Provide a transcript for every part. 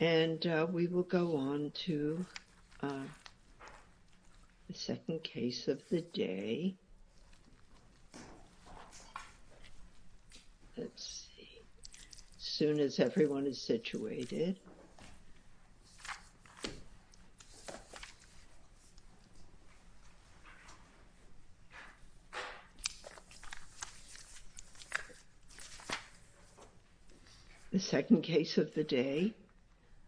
And we will go on to the second case of the day. Let's see, as soon as everyone is situated. The second case of the day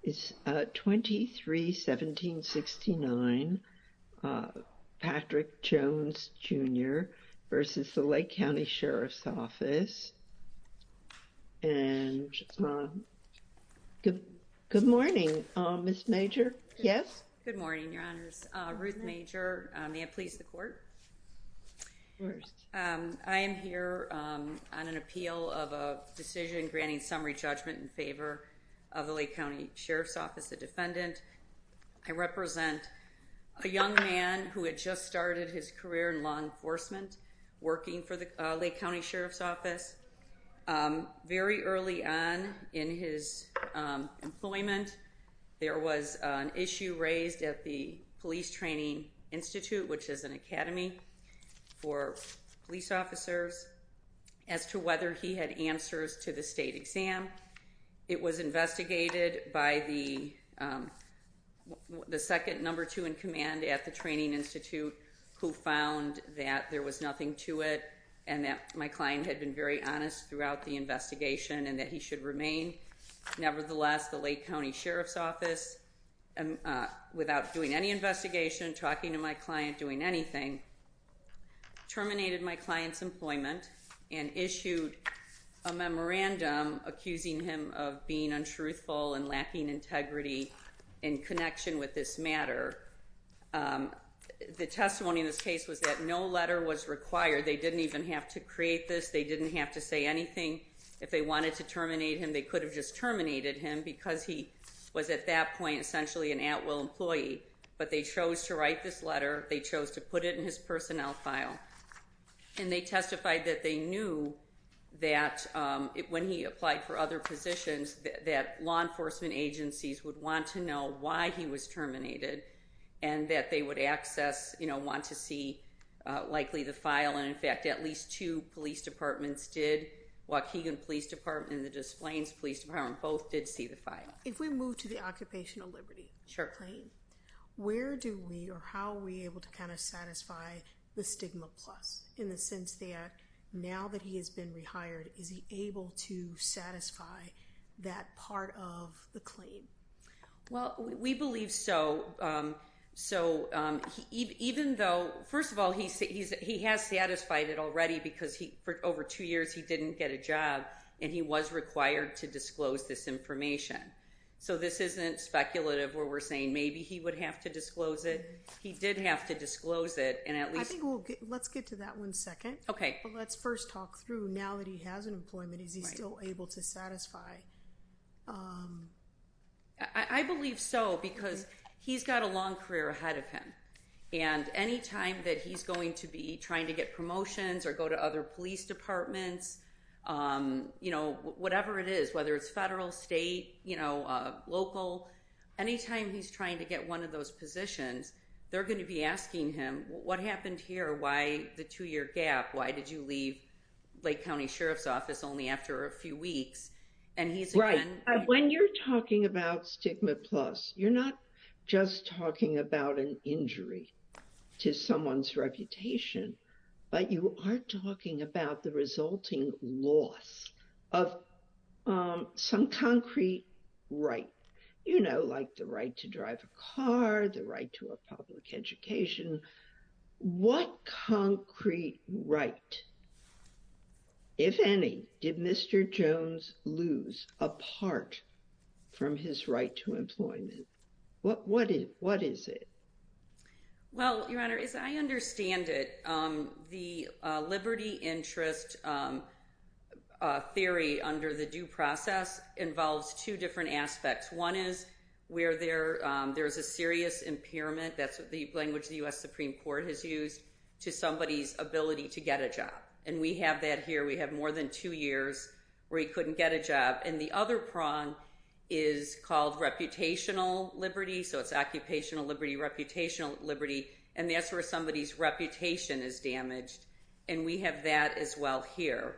is 23-1769, Patrick Jones, Jr. v. Lake County Sheriff's Office. And good morning, Ms. Major. Yes? Good morning, Your Honors. Ruth Major, may it please the court? I am here on an appeal of a decision granting summary judgment in favor of the Lake County Sheriff's Office, the defendant. I represent a young man who had just started his career in law enforcement, working for the Lake County Sheriff's Office. Very early on in his employment, there was an issue raised at the Police Training Institute, which is an academy for police officers, as to whether he had answers to the state exam. It was investigated by the second number two in and that my client had been very honest throughout the investigation and that he should remain. Nevertheless, the Lake County Sheriff's Office, without doing any investigation, talking to my client, doing anything, terminated my client's employment and issued a memorandum accusing him of being untruthful and lacking integrity in connection with this matter. The testimony in this case was that no letter was required. They didn't even have to create this. They didn't have to say anything. If they wanted to terminate him, they could have just terminated him because he was at that point essentially an at-will employee. But they chose to write this letter. They chose to put it in his personnel file. And they testified that they knew that when he applied for other positions, that law enforcement agencies would want to know why he was terminated and that they would access, you know, want to see likely the file. And in fact, at least two police departments did. Waukegan Police Department and the Des Plaines Police Department both did see the file. If we move to the Occupational Liberty claim, where do we or how are we able to kind of satisfy the stigma plus in the sense that now that he has been rehired, is he able to satisfy that part of the claim? Well, we believe so. So, even though, first of all, he has satisfied it already because for over two years he didn't get a job and he was required to disclose this information. So, this isn't speculative where we're saying maybe he would have to disclose it. He did have to disclose it and at least... I think we'll get... Let's get to that one second. Okay. Let's first talk through now that he has an employment, is he still able to satisfy I believe so because he's got a long career ahead of him. And anytime that he's going to be trying to get promotions or go to other police departments, you know, whatever it is, whether it's federal, state, you know, local, anytime he's trying to get one of those positions, they're going to be asking him, what happened here? Why the two-year gap? Why did you leave Lake County Sheriff's Office only after a few weeks? Right. When you're talking about stigma plus, you're not just talking about an injury to someone's reputation, but you are talking about the resulting loss of some concrete right, you know, like the right to drive a car, the right to a public education. What concrete right, if any, did Mr. Jones lose apart from his right to employment? What is it? Well, Your Honor, as I understand it, the liberty interest theory under the due process involves two different aspects. One is where there's a serious impairment. That's the language the U.S. Supreme Court has used to somebody's ability to get a job. And we have that here. We have more than two years where he couldn't get a job. And the other prong is called reputational liberty. So it's occupational liberty, reputational liberty. And that's where somebody's reputation is damaged. And we have that as well here.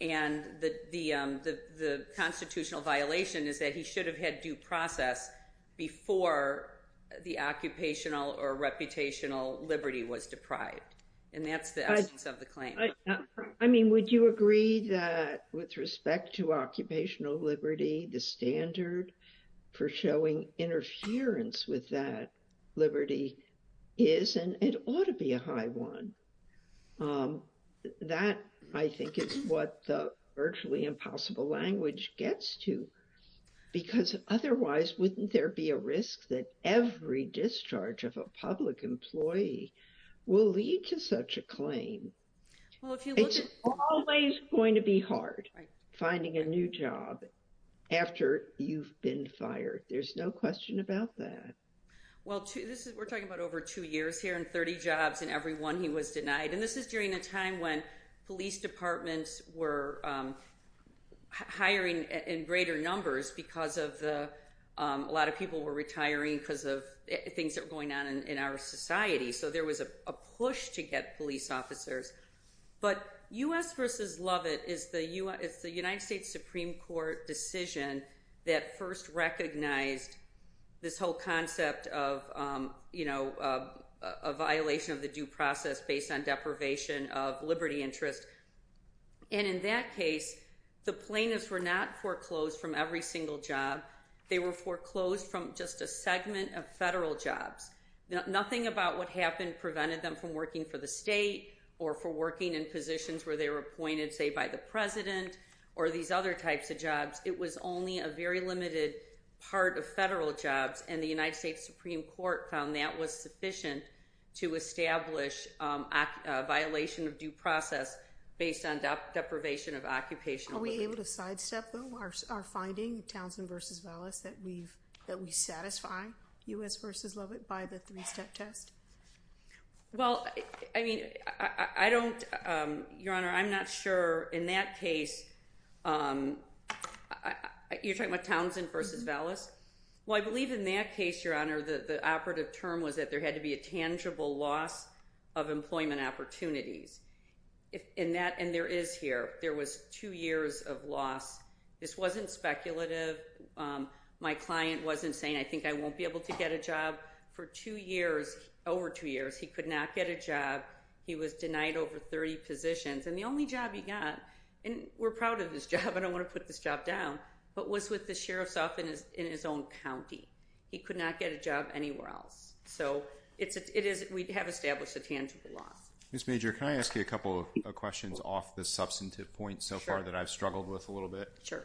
And the constitutional violation is that he should have had due process before the occupational or reputational liberty was deprived. And that's the essence of the claim. I mean, would you agree that with respect to occupational liberty, the standard for showing interference with that liberty is and it ought to be a high one? That, I think, is what the virtually impossible language gets to. Because otherwise, wouldn't there be a risk that every discharge of a public employee will lead to such a claim? It's always going to be hard finding a new job after you've been fired. There's no question about that. Well, we're talking about over two years here and 30 jobs and every one he was denied. And this is during a time when police departments were hiring in greater numbers because a lot of people were retiring because of things that were going on in our society. So there was a push to get police officers. But U.S. versus Lovett is the United States Supreme Court decision that first recognized this whole concept of a violation of the due process based on deprivation of liberty interest. And in that case, the plaintiffs were not foreclosed from every single job. They were foreclosed from just a segment of federal jobs. Nothing about what happened prevented them from working for the state or for working in positions where they were appointed, say, by the president or these other types of jobs. It was only a very limited part of federal jobs and the United States Supreme Court found that was sufficient to establish a violation of due process based on deprivation of occupational liberty. Are we able to sidestep our finding, Townsend versus Vallis, that we satisfy U.S. versus Lovett by the three-step test? Well, I mean, I don't, Your Honor, I'm not sure. In that case, you're talking about Townsend versus Vallis? Well, I believe in that case, Your Honor, the operative term was that there had to be a tangible loss of employment opportunities. And there is here. There was two years of loss. This wasn't speculative. My client wasn't saying, I think I won't be able to get a job. For two years, over two years, he could not get a job. He was denied over 30 positions. And the only job he got, and we're proud of his job, I don't want to put this job down, but was with the sheriff's office in his own county. He could not get a job anywhere else. So, it is, we have established a tangible loss. Ms. Major, can I ask you a couple of questions off the substantive point so far that I've struggled with a little bit? Sure.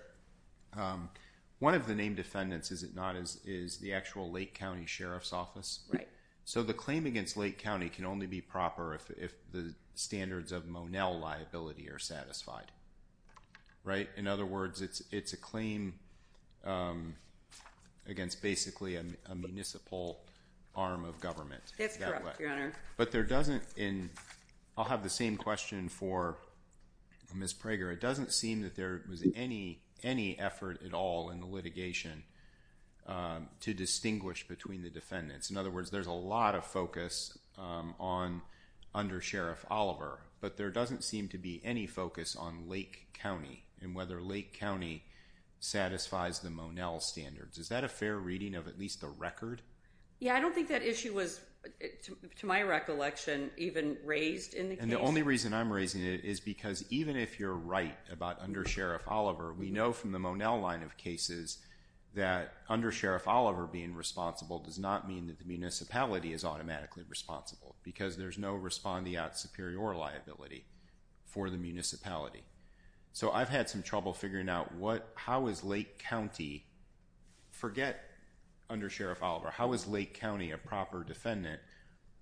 One of the named defendants, is it not, is the actual Lake County Sheriff's Office. Right. So, the claim against Lake County can only be proper if the standards of Monell liability are satisfied, right? In other words, it's a claim against basically a municipal arm of government. That's correct, Your Honor. But there doesn't, and I'll have the same question for Ms. Prager. It doesn't seem that there was any effort at all in the litigation to distinguish between the defendants. In other words, there's a lot of focus on under Sheriff Oliver, but there doesn't seem to be any focus on Lake County and whether Lake County satisfies the Monell standards. Is that a fair reading of at least the record? Yeah, I don't know. The only reason I'm raising it is because even if you're right about under Sheriff Oliver, we know from the Monell line of cases that under Sheriff Oliver being responsible does not mean that the municipality is automatically responsible because there's no respondeat superior liability for the municipality. So, I've had some trouble figuring out what, how is Lake County, forget under Sheriff Oliver, how is Lake County a proper defendant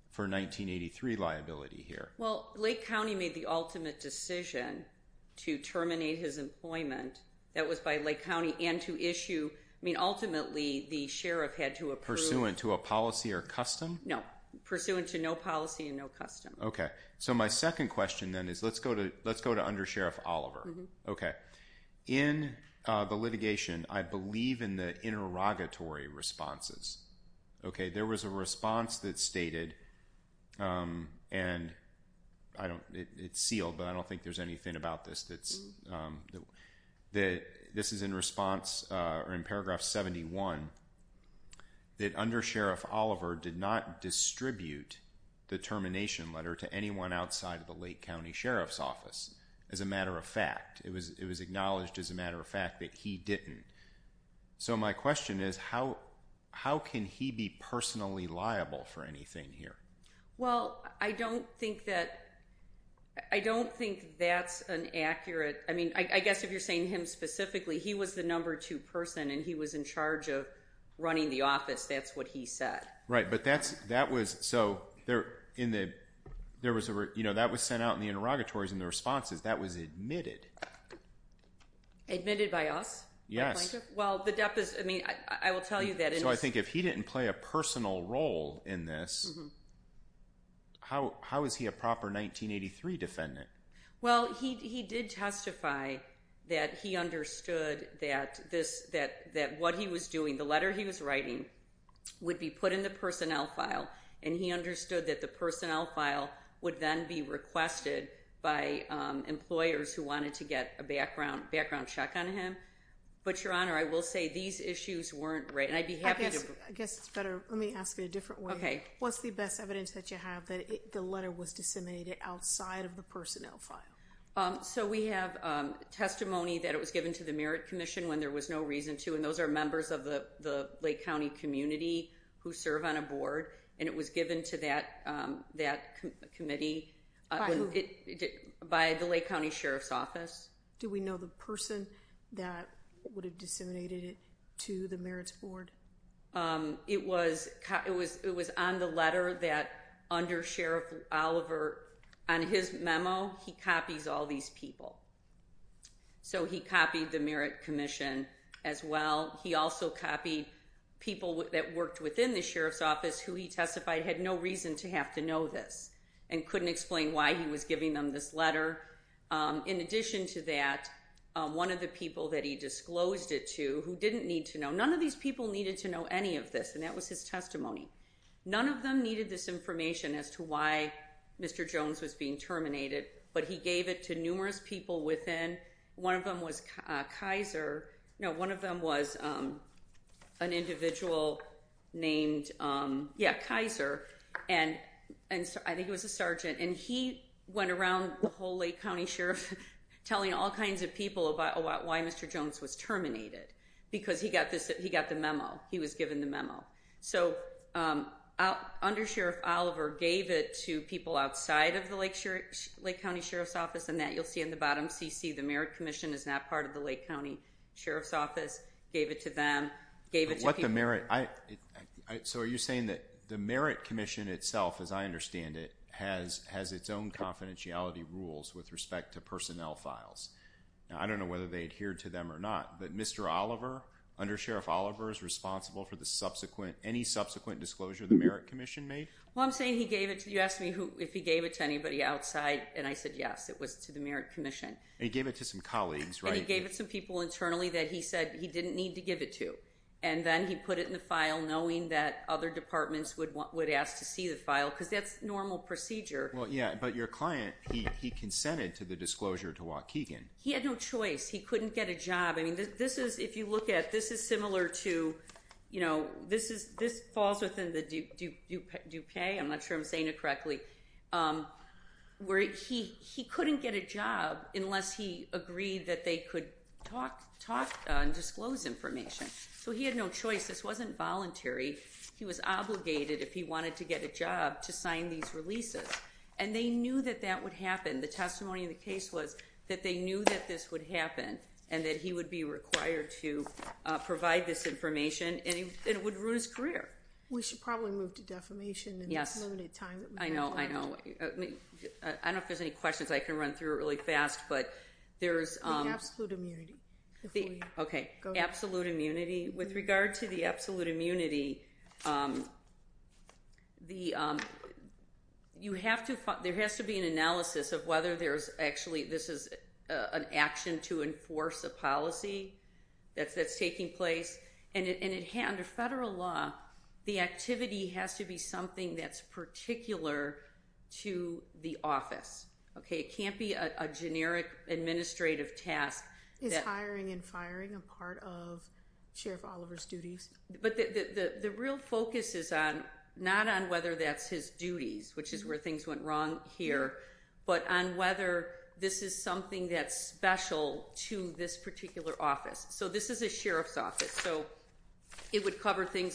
for 1983 liability here? Well, Lake County made the ultimate decision to terminate his employment. That was by Lake County and to issue, I mean, ultimately the Sheriff had to approve. Pursuant to a policy or custom? No, pursuant to no policy and no custom. Okay. So, my second question then is, let's go to under Sheriff Oliver. Okay. In the litigation, I believe in the interrogatory responses. Okay. There was a response that stated, and I don't, it's sealed, but I don't think there's anything about this that's, that this is in response or in paragraph 71 that under Sheriff Oliver did not distribute the termination letter to anyone outside of the Lake County Sheriff's office. As a matter of fact, it was, it was acknowledged as a matter of fact that he didn't. So, my question is how, how can he be personally liable for anything here? Well, I don't think that, I don't think that's an accurate, I mean, I guess if you're saying him specifically, he was the number two person and he was in charge of running the office. That's what he said. Right. But that's, that was, so there in the, there was a, you know, that was sent out in the I will tell you that. So I think if he didn't play a personal role in this, how, how is he a proper 1983 defendant? Well, he, he did testify that he understood that this, that, that what he was doing, the letter he was writing would be put in the personnel file. And he understood that the personnel file would then be requested by employers who wanted to get a issues weren't right. And I'd be happy to, I guess it's better. Let me ask it a different way. Okay. What's the best evidence that you have that the letter was disseminated outside of the personnel file? So we have testimony that it was given to the merit commission when there was no reason to, and those are members of the, the Lake County community who serve on a board. And it was given to that, that committee by the Lake County Sheriff's office. Do we know the person that would have disseminated it to the merits board? It was, it was, it was on the letter that under Sheriff Oliver on his memo, he copies all these people. So he copied the merit commission as well. He also copied people that worked within the Sheriff's office who he testified had no reason to have to know this and couldn't explain why he was giving them this letter. In addition to that, one of the people that he disclosed it to who didn't need to know, none of these people needed to know any of this. And that was his testimony. None of them needed this information as to why Mr. Jones was being terminated, but he gave it to numerous people within one of them was Kaiser. No, one of them was an individual named yeah, Kaiser. And, and I think it was a Sergeant and he went around the whole Lake County Sheriff telling all kinds of people about why Mr. Jones was terminated because he got this, he got the memo, he was given the memo. So under Sheriff Oliver gave it to people outside of the Lake County Sheriff's office. And that you'll see in the bottom CC, the merit commission is not part of the Lake County Sheriff's office. Gave it to them. Gave it to people. So are you saying that the merit commission itself, as I understand it, has its own confidentiality rules with respect to personnel files? I don't know whether they adhere to them or not, but Mr. Oliver, under Sheriff Oliver is responsible for the subsequent, any subsequent disclosure the merit commission made? Well, I'm saying he gave it to, you asked me who, if he gave it to anybody outside. And I said, yes, it was to the merit commission. And he gave it to some colleagues, right? And he gave it to some people internally that he said he didn't need to give it to. And then he put it in the file knowing that other departments would ask to see the file because that's normal procedure. Well, yeah, but your client, he, he consented to the disclosure to Waukegan. He had no choice. He couldn't get a job. I mean, this is, if you look at, this is similar to, you know, this is, this falls within the Dupay. I'm not sure I'm saying it correctly. Where he, he couldn't get a job unless he agreed that they could talk, talk and disclose information. So he had no choice. This wasn't voluntary. He was obligated if he wanted to get a job to sign these releases and they knew that that would happen. The testimony in the case was that they knew that this would happen and that he would be required to provide this information and it would ruin his career. We should probably move to defamation. Yes. I know. I know. I don't know if there's any questions I can run through really fast, but there's absolute immunity. Okay. Absolute immunity with regard to the absolute immunity. The you have to, there has to be an analysis of whether there's actually, this is an action to enforce a policy that's, that's taking place. And it, and it had under federal law, the activity has to be something that's particular to the office. Okay. It can't be a generic administrative task is hiring and firing a part of sheriff Oliver's duties. But the, the, the real focus is on not on whether that's his duties, which is where things went wrong here, but on whether this is something that's special to this particular office. So this is a sheriff's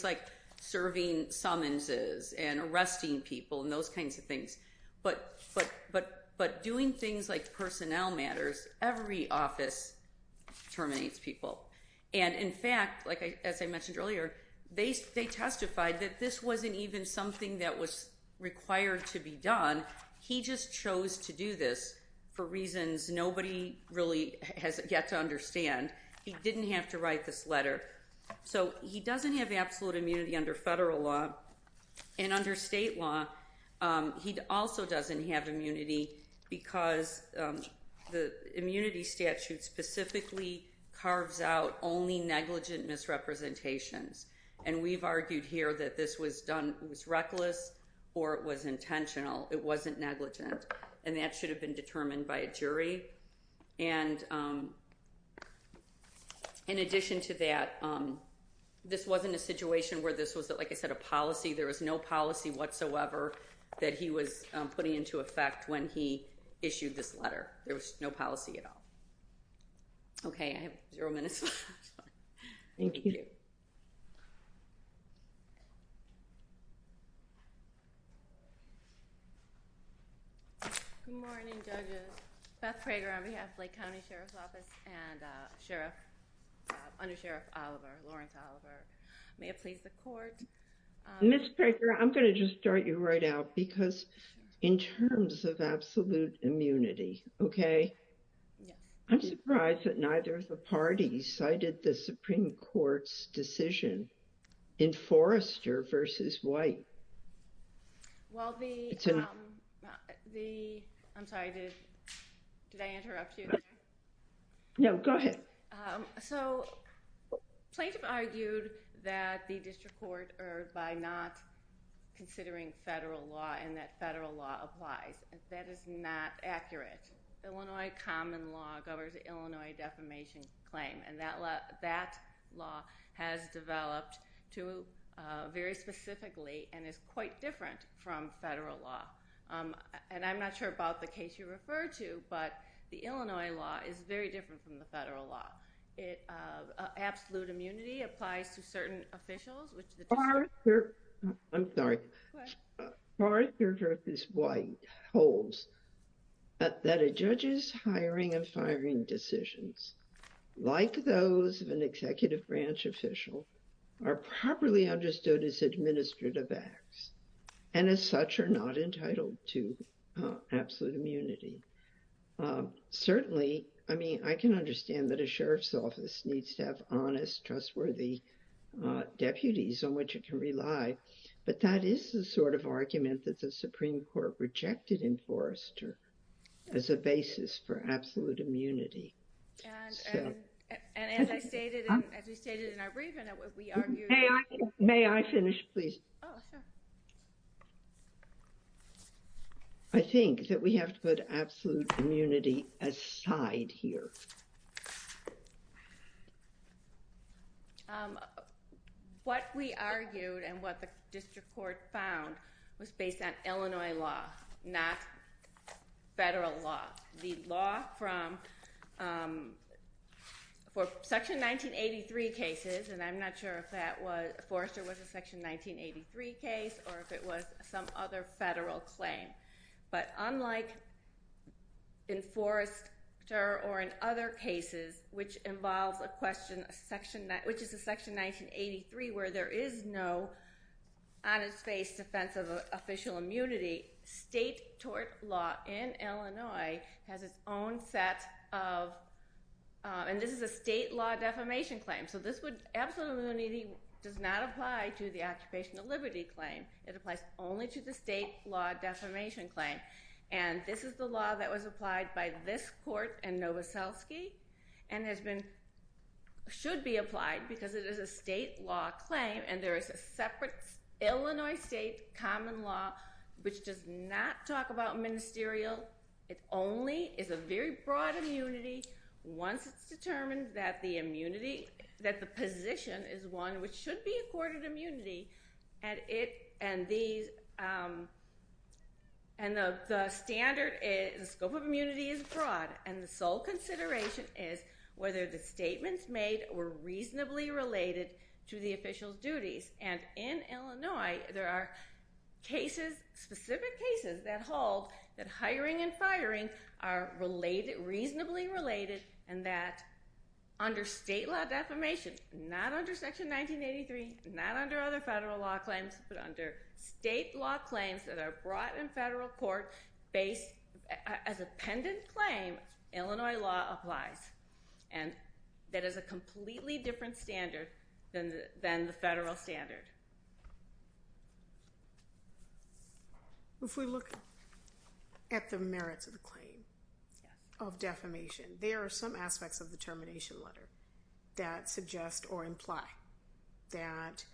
like serving summonses and arresting people and those kinds of things. But, but, but, but doing things like personnel matters, every office terminates people. And in fact, like I, as I mentioned earlier, they, they testified that this wasn't even something that was required to be done. He just chose to do this for reasons nobody really has yet to understand. He didn't have to write this letter. So he doesn't have absolute immunity under federal law and under state law. He also doesn't have immunity because the immunity statute specifically carves out only negligent misrepresentations. And we've argued here that this was done. It was reckless or it was intentional. It wasn't negligent. And that should have been determined by a jury. And in addition to that this wasn't a situation where this was that, like I said, a policy, there was no policy whatsoever that he was putting into effect when he issued this letter, there was no policy at all. Okay. I have zero minutes. Thank you. Good morning judges. Beth Prager on behalf of Lake County Sheriff's Office and Sheriff, Under Sheriff Oliver, Lawrence Oliver. May it please the court. Ms. Prager, I'm going to just start you right out because in terms of absolute immunity, okay. I'm surprised that neither of the parties cited the Supreme Court's decision in Forrester versus White. Well, the, I'm sorry, did I interrupt you? No, go ahead. So plaintiff argued that the district court or by not considering federal law and that federal law applies. That is not accurate. Illinois common law governs the Illinois defamation claim. And that law has developed to very specifically and is quite different from federal law. And I'm not sure about the case you refer to, but the Illinois law is very different from the federal law. Absolute immunity applies to certain officials. I'm sorry. Forrester versus White holds that a judge's hiring and firing decisions, like those of an executive branch official are properly understood as administrative acts and as such are not entitled to absolute immunity. Certainly, I mean, I can understand that a sheriff's office needs to have honest, trustworthy deputies on which it can rely, but that is the sort of argument that the Supreme Court rejected in Forrester as a basis for absolute immunity. And as I stated, as we stated in our briefing, we argued. May I finish, please? I think that we have to put absolute immunity aside here. What we argued and what the district court found was based on Illinois law, not federal law. The Forrester was a section 1983 case, or if it was some other federal claim. But unlike in Forrester or in other cases, which involves a question, which is a section 1983, where there is no on its face defense of official immunity, state tort law in Illinois has its own set of, and this is a state law defamation claim. So absolute immunity does not apply to the Occupational Liberty claim. It applies only to the state law defamation claim. And this is the law that was applied by this court and Novoselsky and has been, should be applied because it is a state law claim. And there is a separate Illinois state common law, which does not talk about ministerial. It only is a very broad immunity. Once it's determined that the immunity, that the position is one which should be accorded immunity at it. And these, and the standard is the scope of immunity is broad. And the sole consideration is whether the statements made were reasonably related to the official duties. And in Illinois, there are cases, specific cases that hold that hiring and firing are related, reasonably related, and that under state law defamation, not under section 1983, not under other federal law claims, but under state law claims that are brought in federal court based as a pendant claim, Illinois law applies. And that is a completely different standard than the federal standard. If we look at the merits of the claim of defamation, there are some aspects of the termination letter that suggest or imply that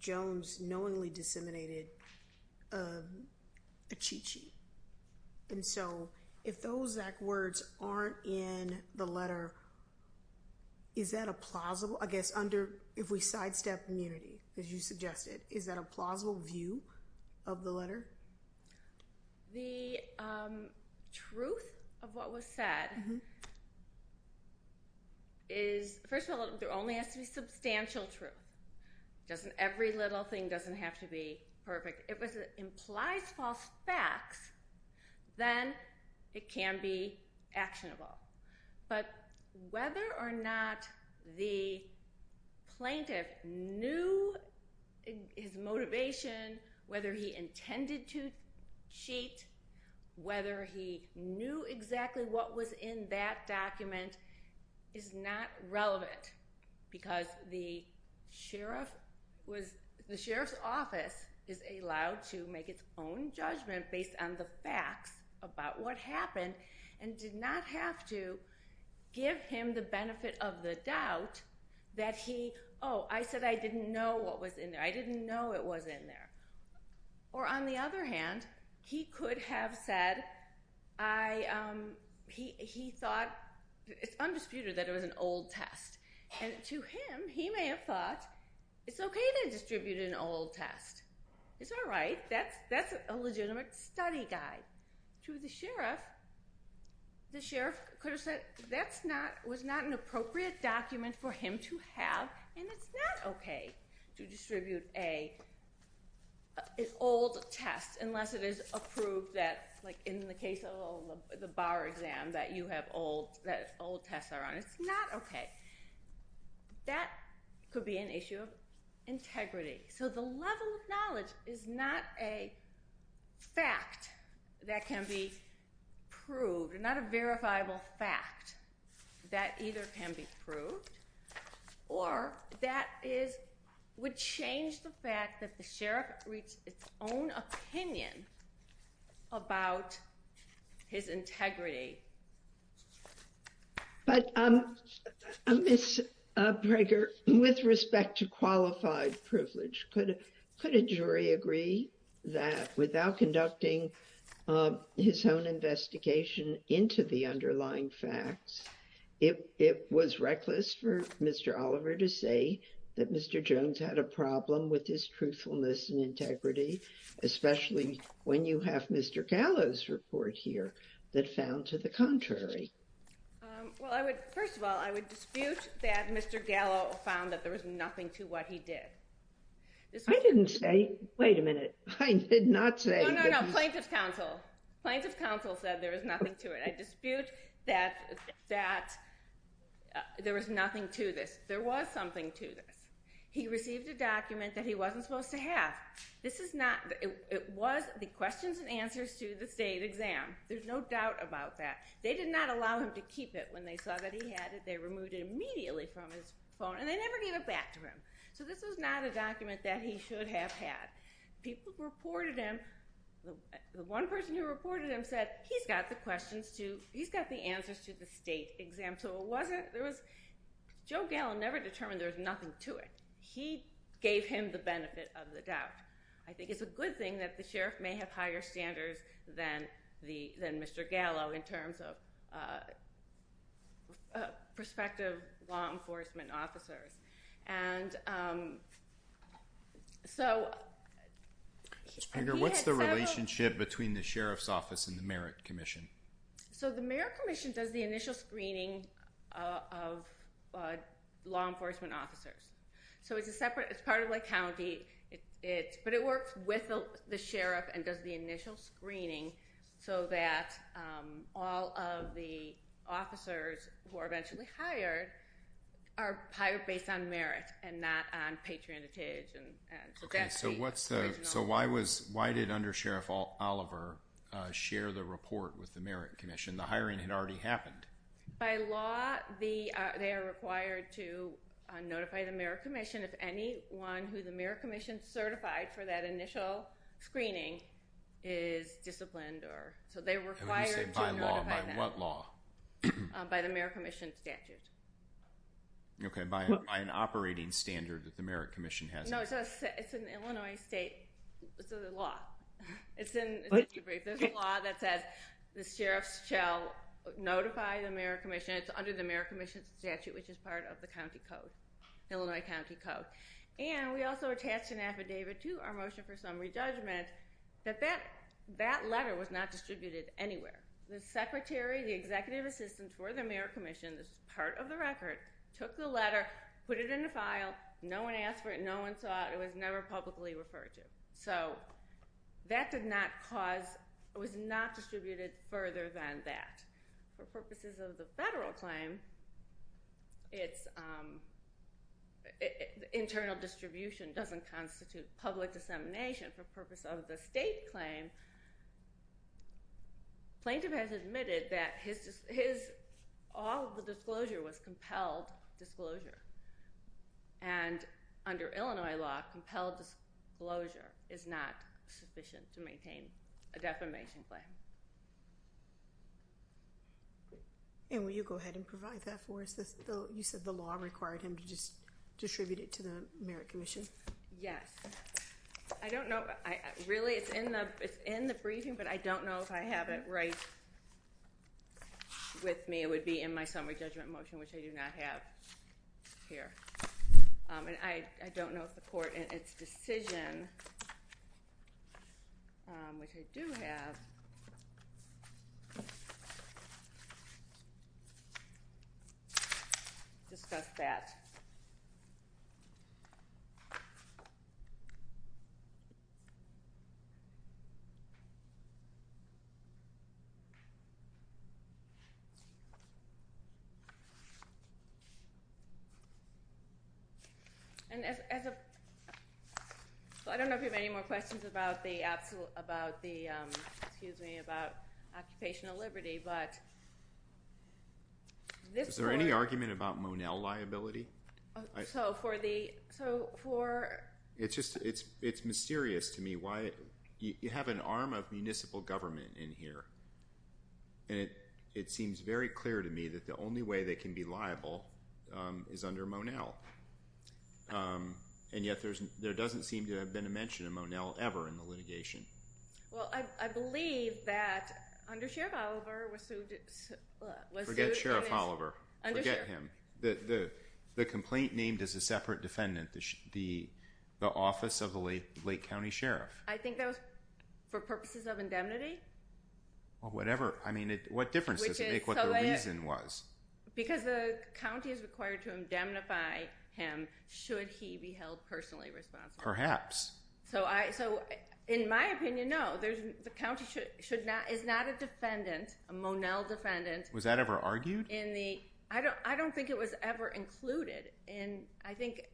Jones knowingly disseminated a cheat sheet. And so if those exact words aren't in the letter, is that a plausible, I guess under, if we sidestep immunity, as you suggested, is that a plausible view of the letter? The truth of what was said is, first of all, there only has to be substantial truth. Doesn't every little thing doesn't have to be perfect. If it implies false facts, then it can be actionable. But whether or not the plaintiff knew his motivation, whether he intended to cheat, whether he knew exactly what was in that document is not relevant because the sheriff was, the sheriff's office is allowed to make its own judgment based on the facts about what happened and did not have to give him the benefit of the doubt that he, oh, I said I didn't know what was in there. I didn't know it was in there. Or on the other hand, he could have said, he thought it's undisputed that it was an old test. And to him, he may have thought, it's okay to distribute an old test. It's all right. That's a legitimate study guide. To the sheriff, the sheriff could have said, that's not, was not an appropriate document for him to have. And it's not okay to distribute a, an old test unless it is approved that, like in the case of the bar exam that you have old, that old tests are on. It's not okay. That could be an issue of integrity. So the level of knowledge is not a fact that can be proved, not a verifiable fact that either can be proved or that is, would change the fact that the Miss Breger, with respect to qualified privilege, could, could a jury agree that without conducting his own investigation into the underlying facts, it, it was reckless for Mr. Oliver to say that Mr. Jones had a problem with his truthfulness and integrity, especially when you have Mr. Gallo's report here that found to the contrary. Um, well I would, first of all, I would dispute that Mr. Gallo found that there was nothing to what he did. I didn't say, wait a minute, I did not say. No, no, no. Plaintiff's counsel, plaintiff's counsel said there was nothing to it. I dispute that, that there was nothing to this. There was something to this. He received a document that he wasn't supposed to have. This is not, it was the questions and answers to the state exam. There's no doubt about that. They did not allow him to keep it. When they saw that he had it, they removed it immediately from his phone and they never gave it back to him. So this was not a document that he should have had. People reported him, the one person who reported him said, he's got the questions to, he's got the answers to the state exam. So it wasn't, there was, Joe Gallo never determined there's nothing to it. He gave him the benefit of the doubt. I think it's a good thing that the sheriff may have higher standards than the, than Mr. Gallo in terms of prospective law enforcement officers. And so he had said- What's the relationship between the sheriff's office and the merit commission? So the merit commission does the initial screening of law enforcement officers. So it's a separate, it's part of the county. It's, but it works with the sheriff and does the initial screening so that all of the officers who are eventually hired are hired based on merit and not on patronage. And so that's the original- So why was, why did under Sheriff Oliver share the report with the merit commission? The hiring had already happened. By law, the, they are required to notify the merit commission if anyone who the merit commission certified for that initial screening is disciplined or, so they're required to- By law, by what law? By the merit commission statute. Okay. By an operating standard that the merit commission has. No, it's an Illinois state law. It's in, there's a law that says the sheriff shall notify the merit commission. It's under the merit commission statute, which is part of the county code, Illinois county code. And we also attached an affidavit to our motion for summary judgment that that, that letter was not distributed anywhere. The secretary, the executive assistant for the merit commission, that's part of the record, took the letter, put it in the file. No one asked for it. No one saw it. It was never publicly referred to. So that did not cause, it was not distributed further than that. For purposes of the federal claim, it's, internal distribution doesn't constitute public dissemination. For purpose of the state claim, plaintiff has admitted that his, his, all of the disclosure was compelled disclosure. And under Illinois law, compelled disclosure is not sufficient to maintain a defamation claim. And will you go ahead and provide that for us? You said the law required him to just distribute it to the merit commission? Yes. I don't know, really it's in the, it's in the briefing, but I don't know if I have it right with me. It would be in my summary judgment motion, which I do not have here. And I, I don't know if the court in its decision, which I do have, discussed that. And as, as a, I don't know if you have any more questions about the absolute, about the, excuse me, about occupational liberty, but this- Is there any argument about Monell liability? So for the, so for- It's just, it's, it's mysterious to me why you have an arm of municipal government in here. And it, it seems very clear to me that the only way they can be liable is under Monell. And yet there's, there doesn't seem to have been a mention of Monell ever in the litigation. Well, I, I believe that under Sheriff Oliver was sued, was sued- Forget Sheriff Oliver. Forget him. The, the, the complaint named as a separate defendant, the, the office of the Lake County Sheriff. I think that was for purposes of indemnity. Well, whatever. I mean, what difference does it make what the reason was? Because the county is required to indemnify him should he be held personally responsible. Perhaps. So I, so in my opinion, no, there's, the county should, should not, is not a defendant, a Monell defendant. Was that ever argued? In the, I don't, I don't think it was ever included. And I think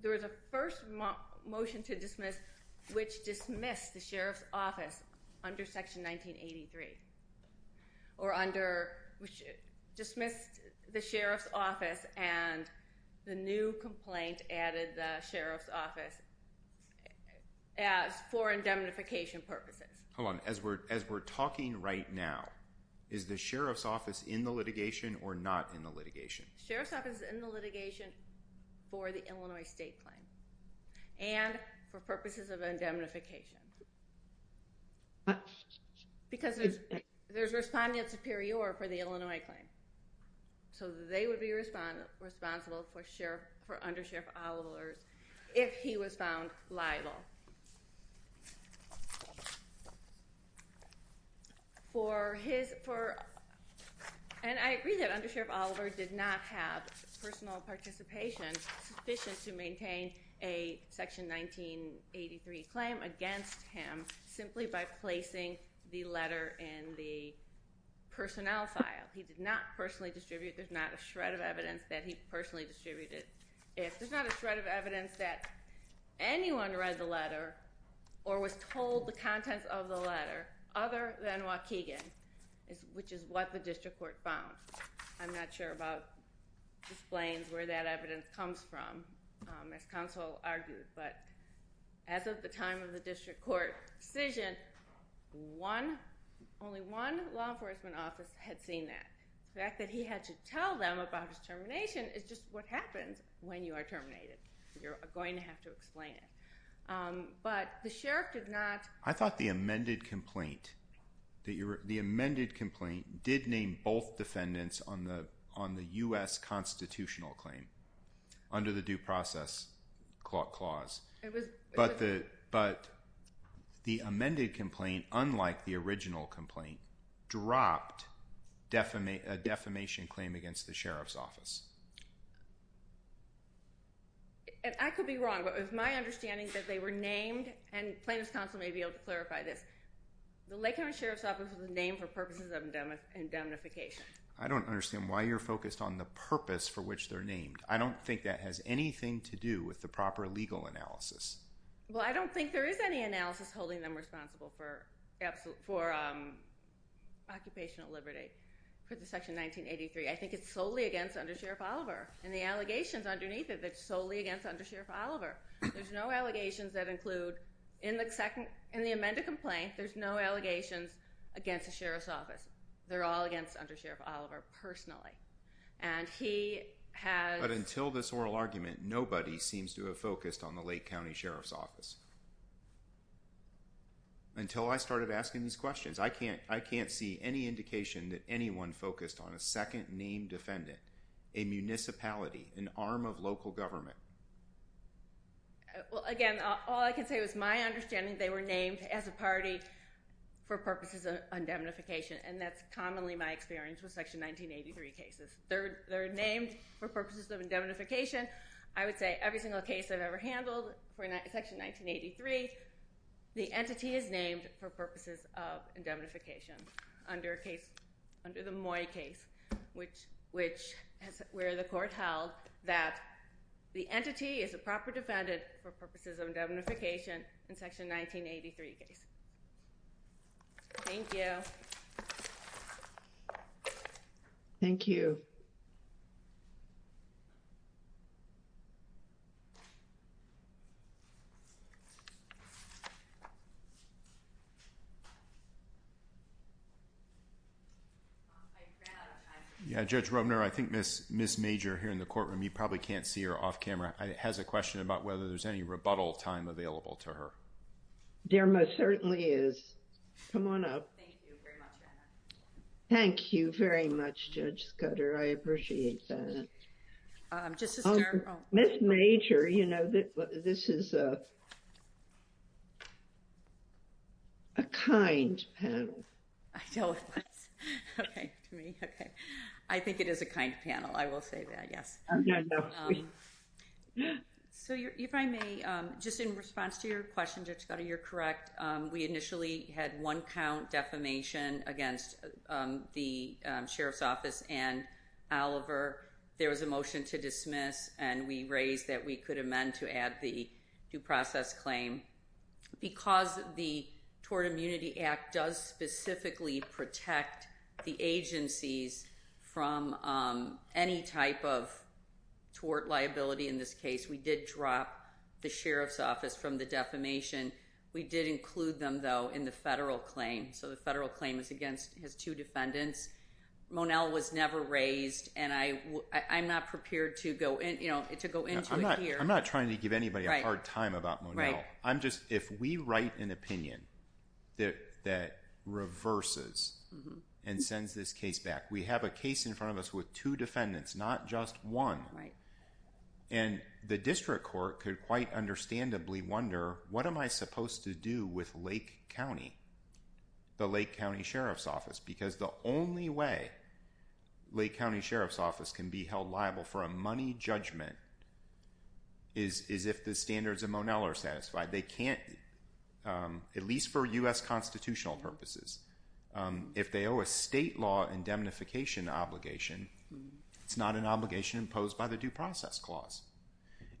there was a first motion to dismiss, which dismissed the Sheriff's office under section 1983 or under which dismissed the Sheriff's office and the new complaint added the Sheriff's office as for indemnification purposes. Hold on. As we're, as we're talking right now, is the Sheriff's office in the litigation or not in the litigation? Sheriff's office is in the litigation for the Illinois state claim and for purposes of indemnification. Because there's, there's respondent superior for the Illinois claim. So they would be respondent responsible for Sheriff for under Sheriff Oliver's. If he was found liable for his, for, and I agree that under Sheriff Oliver did not have personal participation sufficient to maintain a section 1983 claim against him simply by placing the letter in the personnel file. He did not personally distribute. There's not a shred of evidence that he personally distributed. If there's not a shred of evidence that anyone read the letter or was told the contents of the letter other than what Keegan is, which is what the district court found. I'm not sure about explains where that evidence comes from as counsel argued, but as of the time of the district court decision, one, only one law enforcement office had seen that the fact that he had to tell them about his termination is just what happens when you are terminated. You're going to have to explain it. But the sheriff did not. I thought the amended complaint that you're, the amended complaint did name both defendants on the, on the U S constitutional claim under the due process clause, but the, but the amended complaint, unlike the original complaint dropped defamation, a defamation claim against the sheriff's office. And I could be wrong, but it was my understanding that they were named and plaintiff's counsel may be able to clarify this. The Lake County Sheriff's office was named for purposes of indemnification. I don't understand why you're focused on the purpose for which they're named. I don't think that has anything to do with the proper legal analysis. Well, I don't think there is any analysis holding them responsible for absolute, for occupational liberty for the section 1983. I think it's solely against under Sheriff Oliver and the allegations underneath it. That's solely against under Sheriff Oliver. There's no allegations that include in the second, in the amended complaint, there's no allegations against the sheriff's office. They're all against under Sheriff Oliver personally. And he has, but until this oral argument, nobody seems to have focused on the Lake County Sheriff's office until I started asking these questions. I can't, I can't see any indication that anyone focused on a second named defendant, a municipality, an arm of local government. Well, again, all I can say was my understanding. They were named as a party for purposes of indemnification. And that's commonly my experience with section 1983 cases. Third, they're named for purposes of indemnification. I would say every single case I've ever handled for section 1983, the entity is named for purposes of indemnification under a case, under the Moy case, which, which has, where the court held that the entity is a proper defendant for purposes of indemnification in section 1983 case. Thank you. Thank you. Yeah, Judge Roebner, I think Ms., Ms. Major here in the courtroom, you probably can't see her off camera, has a question about whether there's any rebuttal time available to her. There most certainly is. Come on up. Thank you very much, Judge Scudder. I appreciate that. Um, just to start... Ms. Major, you know, this is a, a kind panel. I don't... okay, okay. I think it is a kind panel. I will say that, yes. So, if I may, just in response to your question, Judge Scudder, you're correct. We initially had one count defamation against the Sheriff's Office and Oliver. There was a motion to dismiss, and we raised that we could amend to add the due process claim. Because the Tort Immunity Act does specifically protect the agencies from any type of tort liability in this case, we did drop the Sheriff's Office from the defamation. We did include them, though, in the federal claim. So, the federal claim is against, has two defendants. Monell was never raised, and I, I'm not prepared to go in, you know, to go into it here. I'm not trying to give anybody a hard time about Monell. I'm just, if we write an opinion that, that reverses and sends this case back. We have a case in front of us with two defendants, not just one. And the district court could quite understandably wonder, what am I supposed to do with Lake County, the Lake County Sheriff's Office? Because the only way Lake County Sheriff's Office can be held liable for a money judgment is, is if the standards of Monell are satisfied. They can't, at least for U.S. constitutional purposes, if they owe a state law indemnification obligation. It's not an obligation imposed by the Due Process Clause.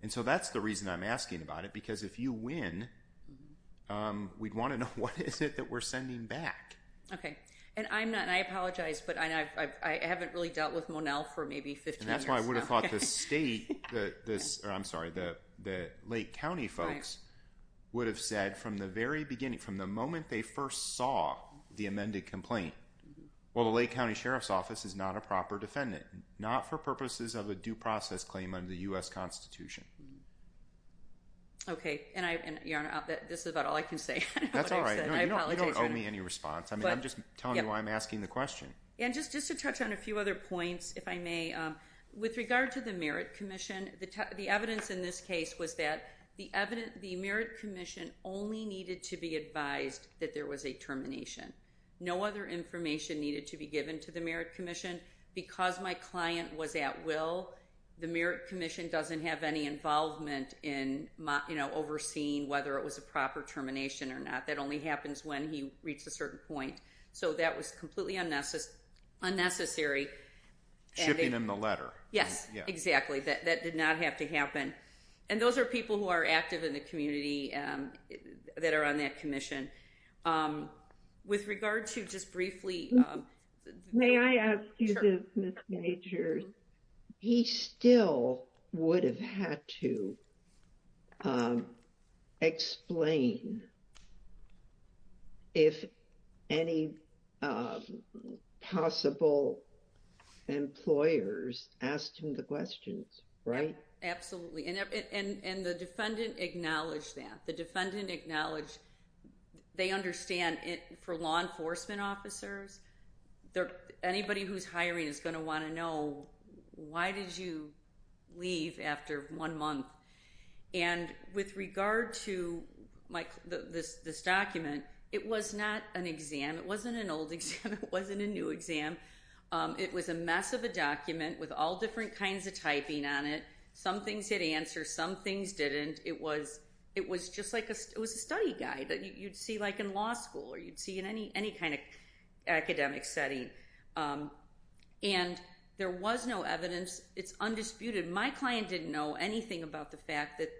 And so, that's the reason I'm asking about it. Because if you win, we'd want to know, what is it that we're sending back? Okay. And I'm not, and I apologize, but I, I, I haven't really dealt with Monell for maybe 15 years now. And that's why I would have thought the state, the, the, I'm sorry, the, the Lake County Well, the Lake County Sheriff's Office is not a proper defendant, not for purposes of a due process claim under the U.S. Constitution. Okay. And I, and this is about all I can say. That's all right. No, you don't owe me any response. I mean, I'm just telling you why I'm asking the question. And just, just to touch on a few other points, if I may, with regard to the Merit Commission, the, the evidence in this case was that the evidence, the Merit Commission only needed to be advised that there was a termination. No other information needed to be given to the Merit Commission because my client was at will. The Merit Commission doesn't have any involvement in my, you know, overseeing whether it was a proper termination or not. That only happens when he reached a certain point. So that was completely unnecessary, unnecessary. Shipping him the letter. Yes, exactly. That did not have to happen. And those are people who are active in the community that are on that commission. Um, with regard to just briefly. May I ask you this, Ms. Majors? He still would have had to, um, explain if any, um, possible employers asked him the questions, right? Absolutely. And, and, and the defendant acknowledged that. The defendant acknowledged they understand it for law enforcement officers. There, anybody who's hiring is going to want to know why did you leave after one month? And with regard to my, this, this document, it was not an exam. It wasn't an old exam. It wasn't a new exam. It was a mess of a document with all different kinds of typing on it. Some things hit answer. Some things didn't. It was, it was just like a, it was a study guide that you'd see like in law school or you'd see in any, any kind of academic setting. Um, and there was no evidence. It's undisputed. My client didn't know anything about the fact that,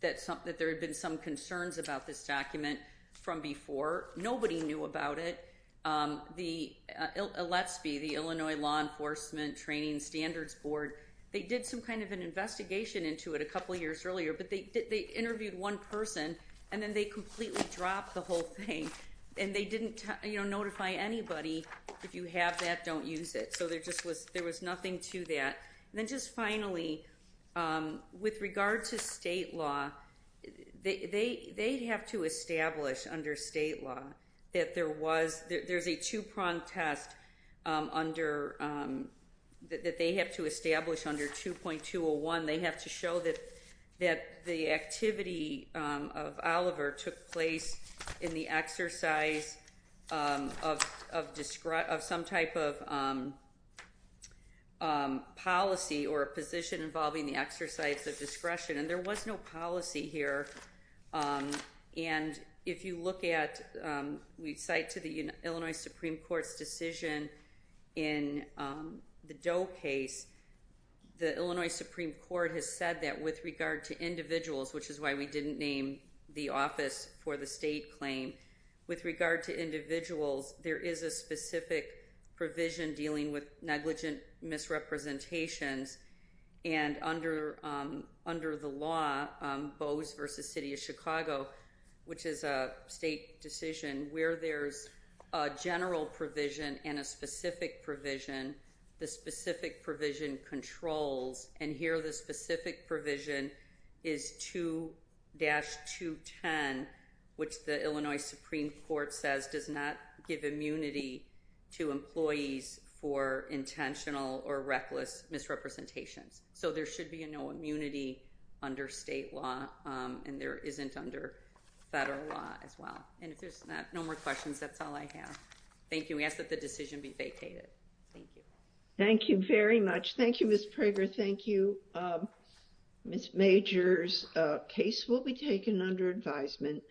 that some, that there had been some concerns about this document from before. Nobody knew about it. Um, the, uh, let's be the Illinois law enforcement training standards board. They did some kind of an investigation into it a couple of years earlier, but they did, they interviewed one person and then they completely dropped the whole thing and they didn't, you know, notify anybody. If you have that, don't use it. So there just was, there was nothing to that. And then just finally, um, with regard to state law, they, they, they'd have to establish under state law that there was, there's a two prong test, um, under, um, that, that they have to establish under 2.201, they have to show that, that the activity, um, of Oliver took place in the exercise, um, of, of discret, of some type of, um, um, policy or a position involving the exercise of discretion. And there was no policy here. Um, and if you look at, um, we cite to the Illinois Supreme Court's decision in, um, the Doe case, the Illinois Supreme Court has said that with regard to individuals, which is why we didn't name the office for the state claim, with regard to individuals, there is a specific provision dealing with negligent misrepresentations and under, um, under the law, um, Bose versus city of Chicago, which is a state decision where there's a general provision and a specific provision, the specific provision controls, and here the specific provision is 2-210, which the Illinois Supreme Court says does not give immunity to employees for intentional or reckless misrepresentations. So there should be a no immunity under state law, um, and there isn't under federal law as well. And if there's not, no more questions, that's all I have. Thank you. We ask that the decision be vacated. Thank you. Thank you very much. Thank you, Ms. Prager. Thank you. Ms. Major's case will be taken under advisement.